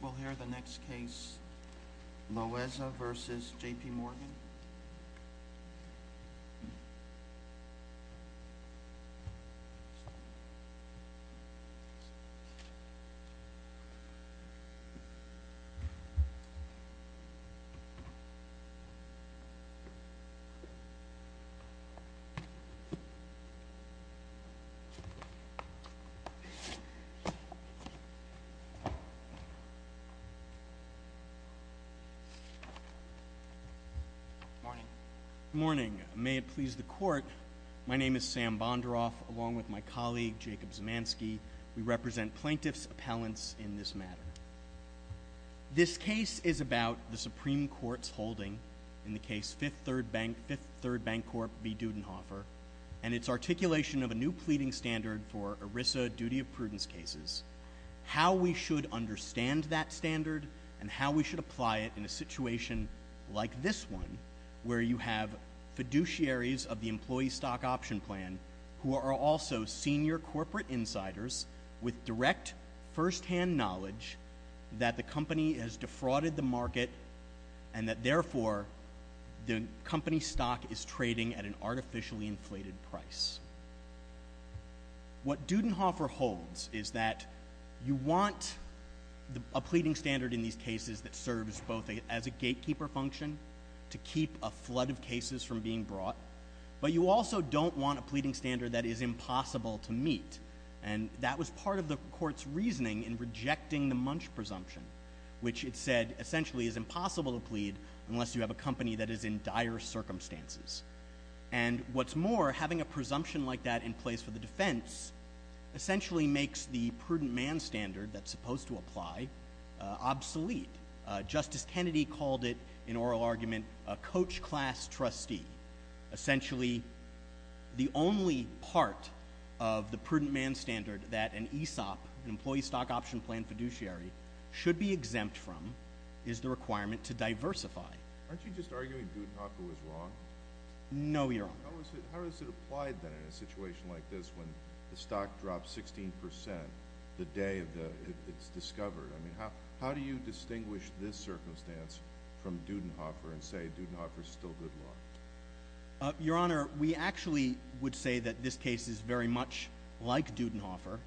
We'll hear the next case, Loeza v. JPMorgan. Good morning. May it please the court, my name is Sam Bonderoff, along with my colleague Jacob Zemanski. We represent plaintiffs' appellants in this matter. This case is about the Supreme Court's holding in the case Fifth Third Bank Corp v. Dudenhofer and its articulation of and how we should apply it in a situation like this one, where you have fiduciaries of the employee stock option plan who are also senior corporate insiders with direct first-hand knowledge that the company has defrauded the market and that therefore the company stock is trading at an artificially inflated price. What Dudenhofer holds is that you want a pleading standard in these cases that serves both as a gatekeeper function to keep a flood of cases from being brought, but you also don't want a pleading standard that is impossible to meet. And that was part of the court's reasoning in rejecting the munch presumption, which it said essentially is impossible to plead unless you have a company that is in dire circumstances. And what's more, having a presumption like that in place for the defense essentially makes the prudent man standard that's supposed to apply obsolete. Justice Kennedy called it, in oral argument, a coach class trustee. Essentially, the only part of the prudent man standard that an ESOP, an employee stock option plan fiduciary, should be exempt from is the requirement to diversify. Aren't you just arguing Dudenhofer was wrong? No, Your Honor. How is it applied then in a situation like this when the stock drops 16% the day it's discovered? I mean, how do you distinguish this circumstance from Dudenhofer and say Dudenhofer's still good luck? Your Honor, we actually would say that this case is very much like Dudenhofer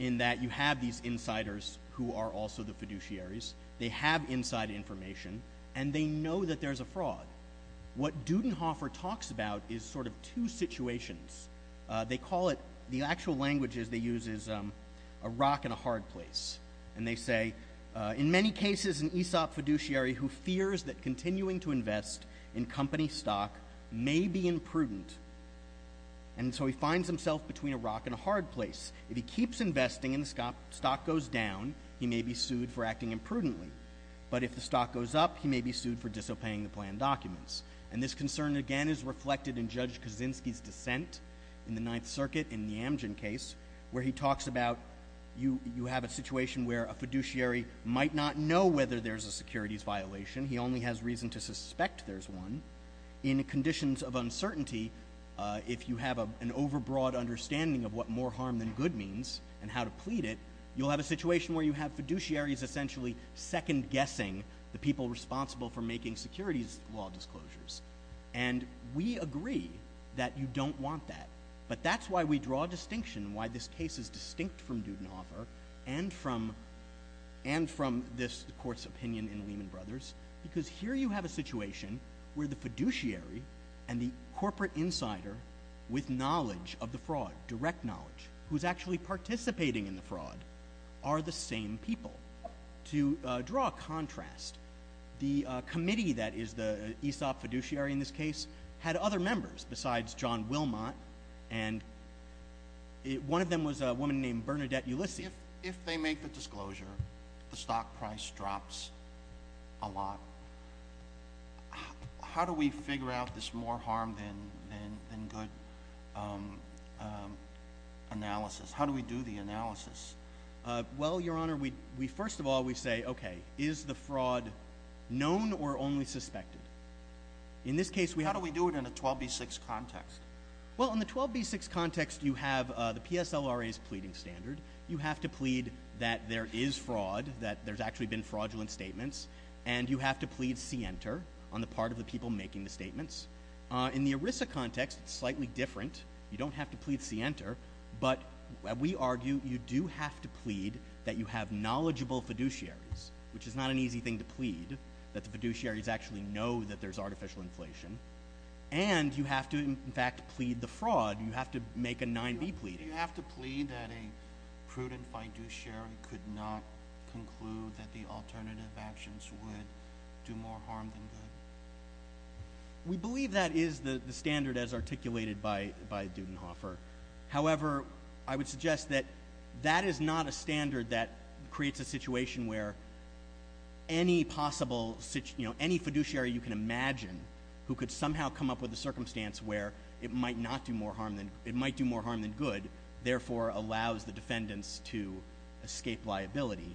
in that you have these insiders who are also the fiduciaries. They have inside information, and they know that there's a fraud. What Dudenhofer talks about is sort of two situations. They call it, the actual languages they use is a rock and a hard place. And they say, in many cases an ESOP fiduciary who fears that continuing to invest in company stock may be imprudent. And so he finds himself between a rock and a hard place. If he keeps investing and the stock goes down, he may be sued for acting imprudently. But if the stock goes up, he may be sued for disobeying the plan documents. And this concern, again, is reflected in Judge Kaczynski's dissent in the Ninth Circuit in the Amgen case, where he talks about you have a situation where a fiduciary might not know whether there's a securities violation. He only has reason to suspect there's one. In conditions of uncertainty, if you have an overbroad understanding of what more harm than good means and how to plead it, you'll have a situation where you have fiduciaries essentially second-guessing the people responsible for making securities law disclosures. And we agree that you don't want that. But that's why we draw a distinction, why this case is distinct from Dudenhofer and from this court's opinion in Lehman Brothers, because here you have a situation where the fiduciary and the corporate insider with knowledge of the fraud, direct knowledge, who's actually participating in the fraud, are the same people. To draw a contrast, the committee that is the ESOP fiduciary in this case had other members besides John Wilmot, and one of them was a woman named Bernadette Ulysses. If they make the disclosure, the stock price drops a lot, how do we figure out this more consistent analysis? How do we do the analysis? Well, Your Honor, we first of all we say, okay, is the fraud known or only suspected? In this case, we... How do we do it in a 12b6 context? Well, in the 12b6 context you have the PSLRA's pleading standard. You have to plead that there is fraud, that there's actually been fraudulent statements, and you have to plead see enter on the part of the people making the statements. In the ERISA context, it's you don't have to plead see enter, but we argue you do have to plead that you have knowledgeable fiduciaries, which is not an easy thing to plead, that the fiduciaries actually know that there's artificial inflation, and you have to, in fact, plead the fraud. You have to make a 9b pleading. Do you have to plead that a prudent fiduciary could not conclude that the alternative actions would do more harm than good? We believe that is the standard as articulated by Dudenhofer. However, I would suggest that that is not a standard that creates a situation where any possible, you know, any fiduciary you can imagine who could somehow come up with a circumstance where it might not do more harm than, it might do more harm than good, therefore allows the defendants to escape liability.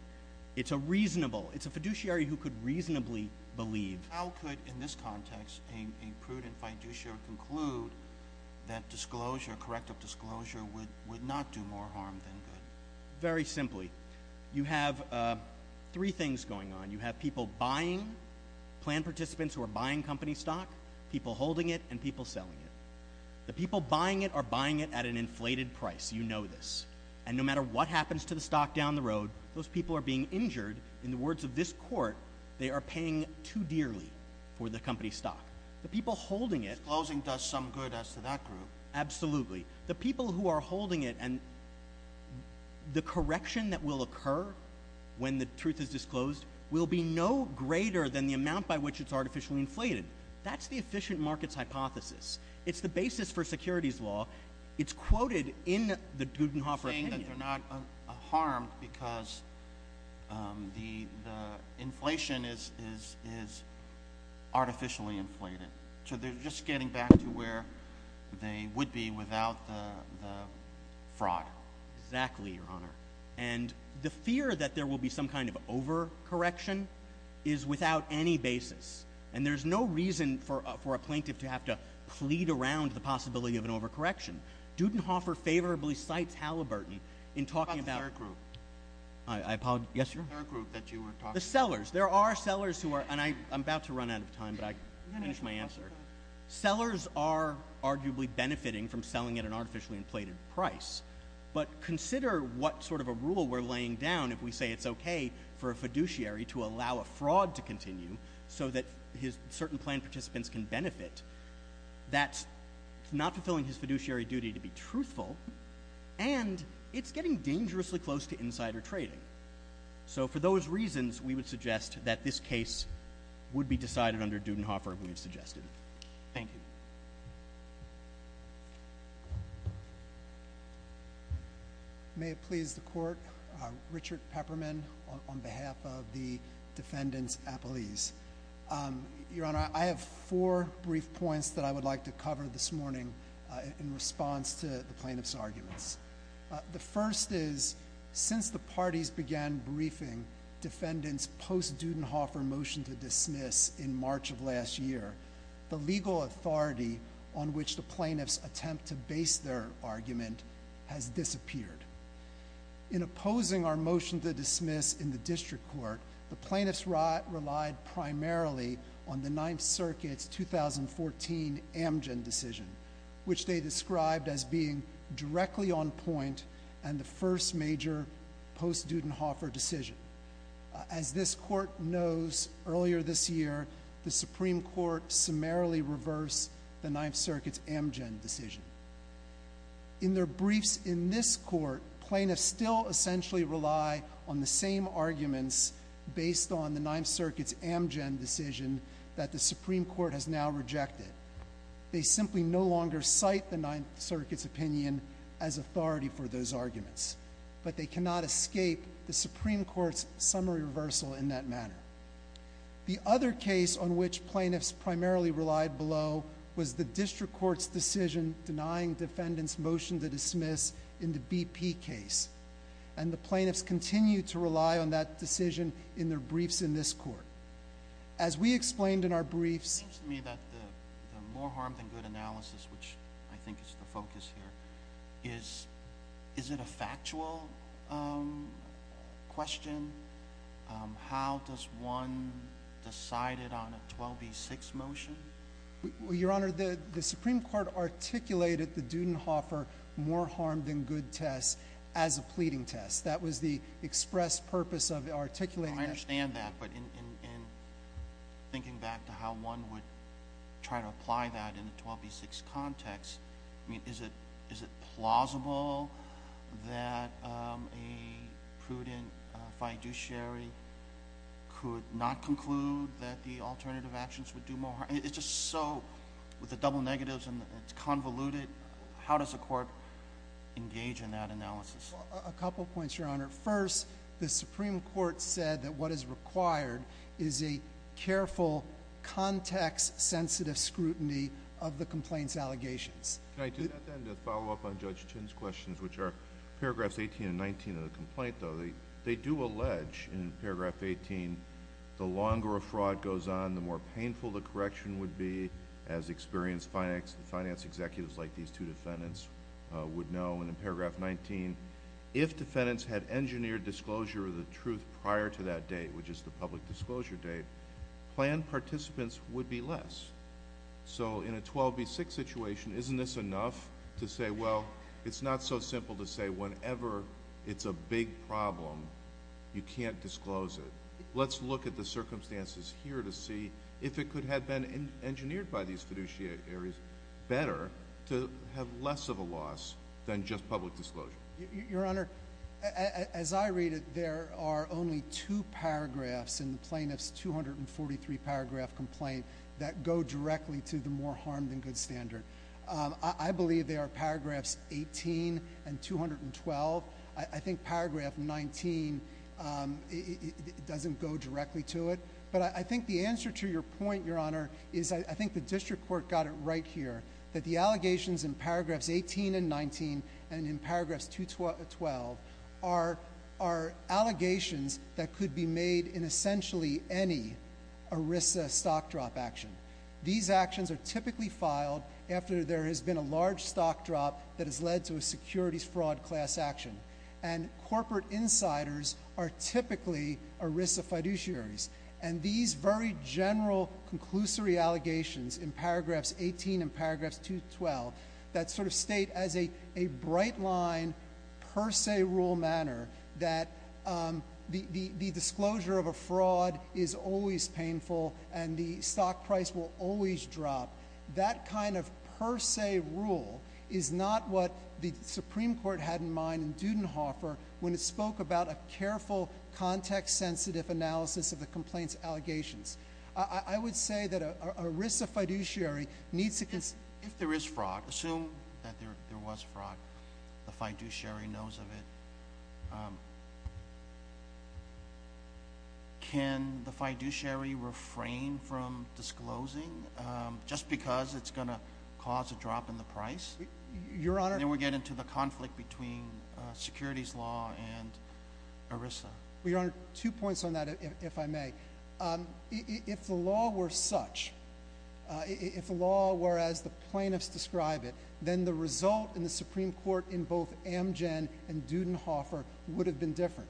It's a reasonable, it's a fiduciary who could reasonably believe... How could, in this context, a prudent fiduciary conclude that disclosure, corrective disclosure, would not do more harm than good? Very simply, you have three things going on. You have people buying, planned participants who are buying company stock, people holding it, and people selling it. The people buying it are buying it at an inflated price. You know this. And no matter what happens to the stock down the road, those people are being injured. In the words of this court, they are paying too dearly for the company stock. The people holding it... Disclosing does some good as to that group. Absolutely. The people who are holding it, and the correction that will occur when the truth is disclosed will be no greater than the amount by which it's artificially inflated. That's the efficient markets hypothesis. It's the basis for securities law. It's quoted in the Dudenhofer opinion. They're not harmed because the inflation is artificially inflated. So they're just getting back to where they would be without the fraud. Exactly, Your Honor. And the fear that there will be some kind of over-correction is without any basis. And there's no reason for a plaintiff to have to plead around the possibility of a fraud. I'm going to finish my answer. Sellers are arguably benefiting from selling at an artificially inflated price. But consider what sort of a rule we're laying down if we say it's okay for a fiduciary to allow a fraud to continue so that certain plan participants can benefit. That's not fulfilling his fiduciary duty to be truthful, and it's getting dangerously close to insider trading. So for those reasons, we would suggest that this case would be decided under Dudenhofer, we've suggested. Thank you. May it please the Court, Richard Pepperman on behalf of the defendants' appellees. Your Honor, I have four brief points that I would like to cover this morning in response to the plaintiff's arguments. The first is, since the parties began briefing defendants post-Dudenhofer motion to dismiss in March of last year, the legal authority on which the plaintiffs attempt to base their argument has disappeared. In opposing our motion to dismiss, plaintiffs relied primarily on the Ninth Circuit's 2014 Amgen decision, which they described as being directly on point and the first major post-Dudenhofer decision. As this Court knows, earlier this year, the Supreme Court summarily reversed the Ninth Circuit's Amgen decision. In their briefs in this Court, plaintiffs still essentially rely on the same arguments based on the Ninth Circuit's Amgen decision that the Supreme Court has now rejected. They simply no longer cite the Ninth Circuit's opinion as authority for those arguments, but they cannot escape the Supreme Court's summary reversal in that manner. The other case on which plaintiffs primarily relied below was the District Court's decision denying defendants motion to dismiss in the BP case, and the plaintiffs continue to rely on that decision in their briefs in this Court. As we explained in our briefs... It seems to me that the more harm than good analysis, which I think is the focus here, is, is it a factual question? How does one decide it on a 12B6 motion? Your Honor, the Supreme Court articulated the Dudenhofer more harm than good test as a pleading test. That was the express purpose of articulating that. I understand that, but in thinking back to how one would try to apply that in a 12B6 context, I mean, is it, is it plausible that a prudent fiduciary could not conclude that the alternative actions would do more harm? It's just so, with the double negatives and it's convoluted, how does the Court engage in that analysis? A couple points, Your Honor. First, the Supreme Court said that what is required is a careful, context-sensitive scrutiny of the complaint's allegations. Can I do that then to follow up on Judge Chin's questions, which are paragraphs 18 and 19 They do allege in paragraph 18, the longer a fraud goes on, the more painful the correction would be, as experienced finance executives like these two defendants would know. In paragraph 19, if defendants had engineered disclosure of the truth prior to that date, which is the public disclosure date, planned participants would be less. In a 12B6 situation, isn't this enough to say, well, it's not so simple to say whenever it's a big problem, you can't disclose it. Let's look at the circumstances here to see if it could have been engineered by these fiduciaries better to have less of a loss than just public disclosure. Your Honor, as I read it, there are only two paragraphs in the plaintiff's 243-paragraph complaint that go directly to the more harm than good standard. I believe they are paragraphs 18 and 212. I think paragraph 19 doesn't go directly to it. But I think the answer to your point, Your Honor, is I think the district court got it right here that the allegations in paragraphs 18 and 19 and in paragraphs 212 are allegations that could be made in essentially any ERISA stock drop action. These actions are typically filed after there has been a large stock drop that has led to a securities fraud class action. And corporate insiders are typically ERISA fiduciaries. And these very general conclusory allegations in paragraphs 18 and paragraphs 212 that sort of state as a bright line per se rule manner that the disclosure of a fraud is always painful and the stock price will always drop, that kind of per se rule is not what the Supreme Court had in mind in Dudenhofer when it spoke about a careful context-sensitive analysis of the complaint's allegations. I would say that an ERISA fiduciary needs to consider… If there is fraud, assume that there was fraud, the fiduciary knows of it, can the fiduciary refrain from disclosing just because it's going to cause a drop in the price? Your Honor… Then we get into the conflict between securities law and ERISA. Well, Your Honor, two points on that if I may. If the law were such, if the law were as the plaintiffs describe it, then the result in the Supreme Court in both Amgen and Dudenhofer would have been different.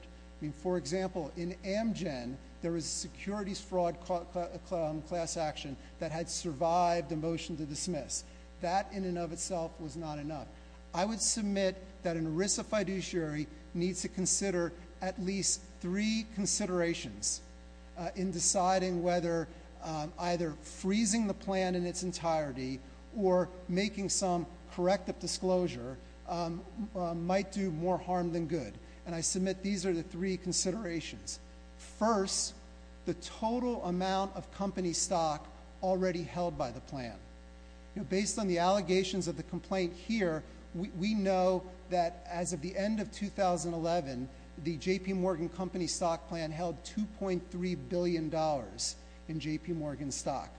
For example, in Amgen, there was securities fraud class action that had survived a motion to dismiss. That in and of itself was not enough. I would submit that an ERISA fiduciary needs to consider at least three considerations in deciding whether either freezing the plan in its entirety or making some corrective disclosure might do more harm than good. And I submit these are the three considerations. First, the total amount of company stock already held by the plan. Based on the allegations of the complaint here, we know that as of the end of 2011, the J.P. Morgan Company Stock Plan held $2.3 billion in J.P. Morgan stock.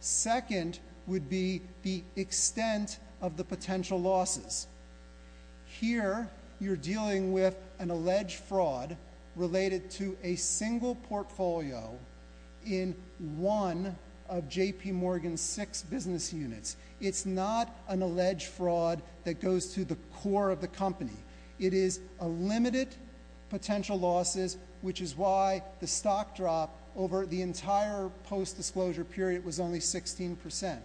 Second would be the extent of the potential losses. Here, you're dealing with an alleged fraud related to a single portfolio in one of J.P. Morgan's six business units. It's not an alleged fraud that goes to the core of the company. It is a limited potential losses, which is why the stock drop over the entire post-disclosure period was only 16%.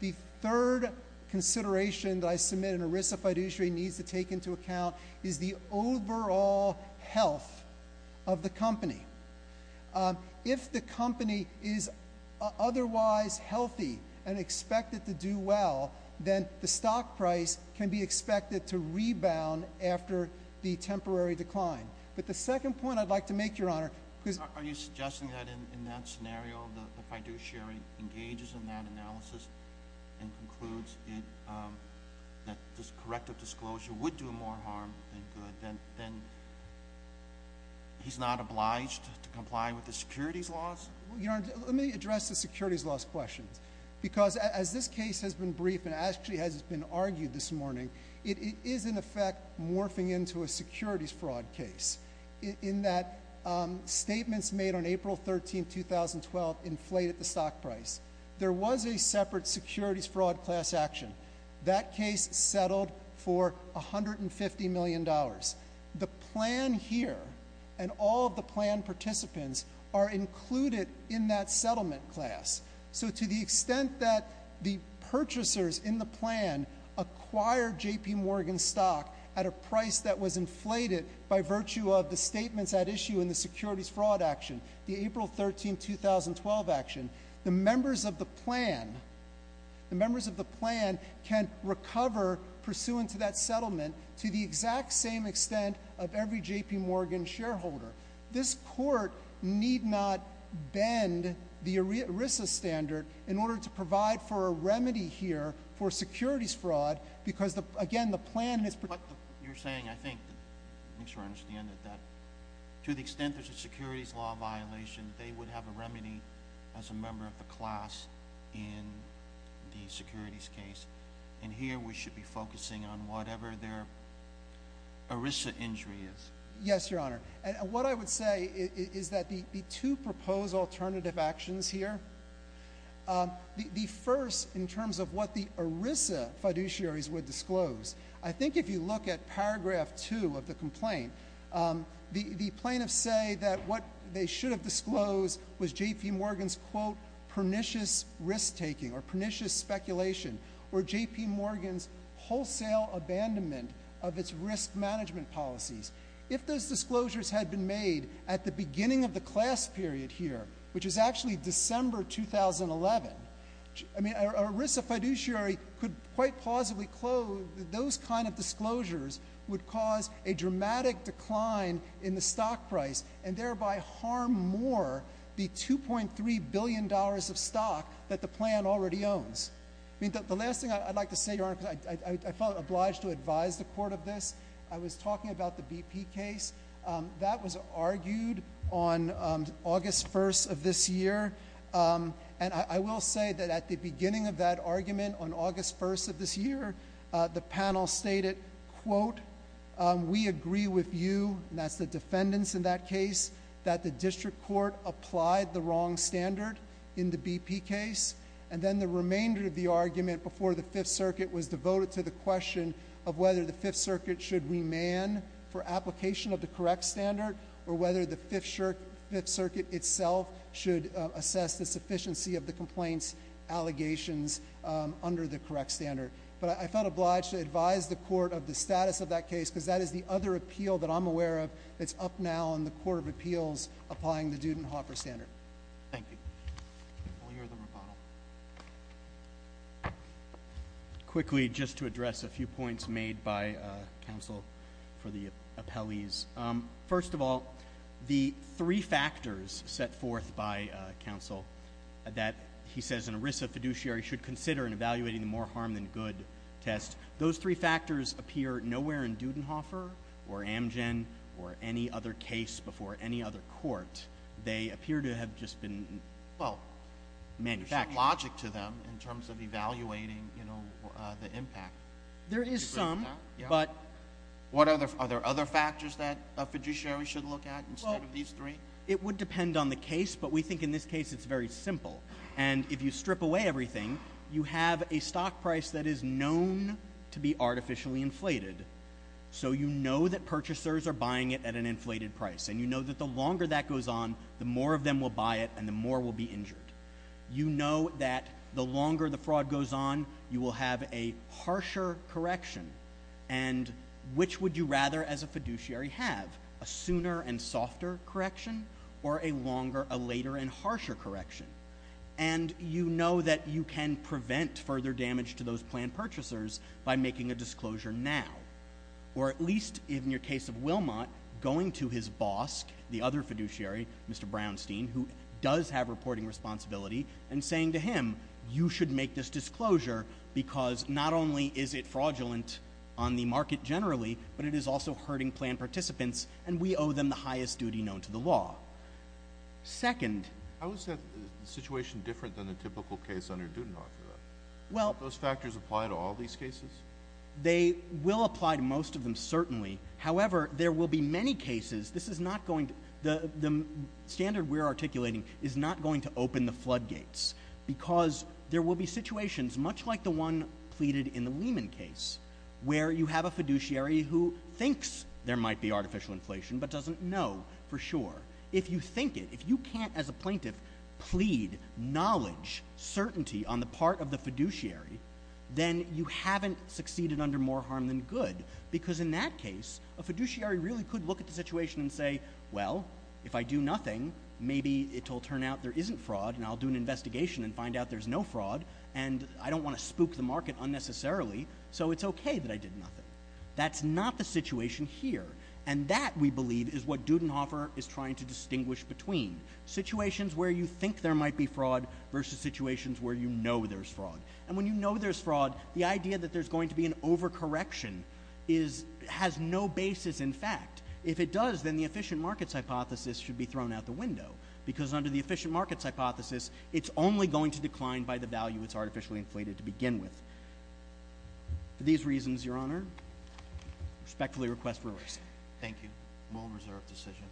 The third consideration that I submit an ERISA fiduciary needs to take into account is the overall health of the company. If the company is otherwise healthy and expected to do well, then the stock price can be expected to rebound after the temporary decline. But the second point I'd like to make, Your Honor, because— Are you suggesting that in that scenario, the fiduciary engages in that analysis and concludes that corrective disclosure would do more harm than good, then he's not obliged to comply with the securities laws? Your Honor, let me address the securities laws questions. Because as this case has been briefed and actually has been argued this morning, it is in effect morphing into a securities fraud case, in that statements made on April 13, 2012 inflated the stock price. There was a separate securities fraud class action. That case settled for $150 million. The plan here and all of the plan participants are included in that settlement class. So to the extent that the purchasers in the plan acquired J.P. Morgan stock at a price that was inflated by virtue of the statements at issue in the securities fraud action, the April 13, 2012 action, the members of the plan can recover pursuant to that settlement to the exact same extent of every J.P. Morgan shareholder. This court need not bend the ERISA standard in order to provide for a remedy here for securities fraud because, again, the plan has— But you're saying, I think, to the extent there's a securities law violation, they would have a remedy as a member of the class in the securities case. And here we should be focusing on whatever their ERISA injury is. Yes, Your Honor. What I would say is that the two proposed alternative actions here, the first in terms of what the ERISA fiduciaries would disclose, I think if you look at paragraph two of the complaint, the plaintiffs say that what they should have disclosed was J.P. Morgan's, quote, pernicious risk-taking or pernicious speculation or J.P. Morgan's wholesale abandonment of its risk management policies. If those disclosures had been made at the beginning of the class period here, which is actually December 2011, I mean, an ERISA fiduciary could quite plausibly clothe those kind of disclosures would cause a dramatic decline in the stock price and thereby harm more the $2.3 billion of stock that the plan already owns. I mean, the last thing I'd like to say, Your Honor, because I felt obliged to advise the court of this, I was talking about the BP case. That was argued on August 1st of this year. And I will say that at the beginning of that argument on August 1st of this year, the panel stated, quote, we agree with you, and that's the defendants in that case, that the district court applied the wrong standard in the BP case. And then the remainder of the argument before the Fifth Circuit was devoted to the question of whether the Fifth Circuit should remand for application of the correct standard or whether the Fifth Circuit itself should assess the sufficiency of the complaint's allegations under the correct standard. But I felt obliged to advise the court of the status of that case because that is the other appeal that I'm aware of that's up now in the Court of Appeals applying the Dudenhoffer standard. Thank you. We'll hear the rebuttal. Quickly, just to address a few points made by counsel for the appellees. First of all, the three factors set forth by counsel that he says an ERISA fiduciary should consider in evaluating the more harm than good test, those three factors appear nowhere in Dudenhoffer or Amgen or any other case before any other court. They appear to have just been manufactured. Well, in fact, logic to them in terms of evaluating the impact. There is some, but... Are there other factors that a fiduciary should look at instead of these three? It would depend on the case, but we think in this case it's very simple. And if you strip away everything, you have a stock price that is known to be artificially inflated, so you know that purchasers are buying it at an inflated price and you know that the longer that goes on, the more of them will buy it and the more will be injured. You know that the longer the fraud goes on, you will have a harsher correction. And which would you rather as a fiduciary have, a sooner and softer correction or a longer, a later and harsher correction? And you know that you can prevent further damage to those planned purchasers by making a disclosure now. Or at least in your case of Wilmot, going to his boss, the other fiduciary, Mr. Brownstein, who does have reporting responsibility, and saying to him, you should make this disclosure because not only is it fraudulent on the market generally, but it is also hurting planned participants and we owe them the highest duty known to the law. Second... How is that situation different than the typical case under Doudna for that? Well... Do those factors apply to all these cases? They will apply to most of them, certainly. However, there will be many cases, this is not going to, the standard we're articulating is not going to open the floodgates because there will be situations, much like the one pleaded in the Lehman case, where you have a fiduciary who thinks there might be artificial inflation but doesn't know for sure. If you think it, if you can't as a plaintiff plead knowledge, certainty on the part of the fiduciary, then you haven't succeeded under more harm than good. Because in that case, a fiduciary really could look at the situation and say, well, if I do nothing, maybe it will turn out there isn't fraud and I'll do an investigation and find out there's no fraud and I don't want to spook the market unnecessarily. So it's okay that I did nothing. That's not the situation here. And that, we believe, is what Doudna is trying to distinguish between. Situations where you think there might be fraud versus situations where you know there's fraud. And when you know there's fraud, the idea that there's going to be an overcorrection has no basis in fact. If it does, then the efficient markets hypothesis should be thrown out the window because under the efficient markets hypothesis, it's only going to decline by the value it's artificially inflated to begin with. For these reasons, Your Honor, I respectfully request release. Thank you. Rule of reserve decision.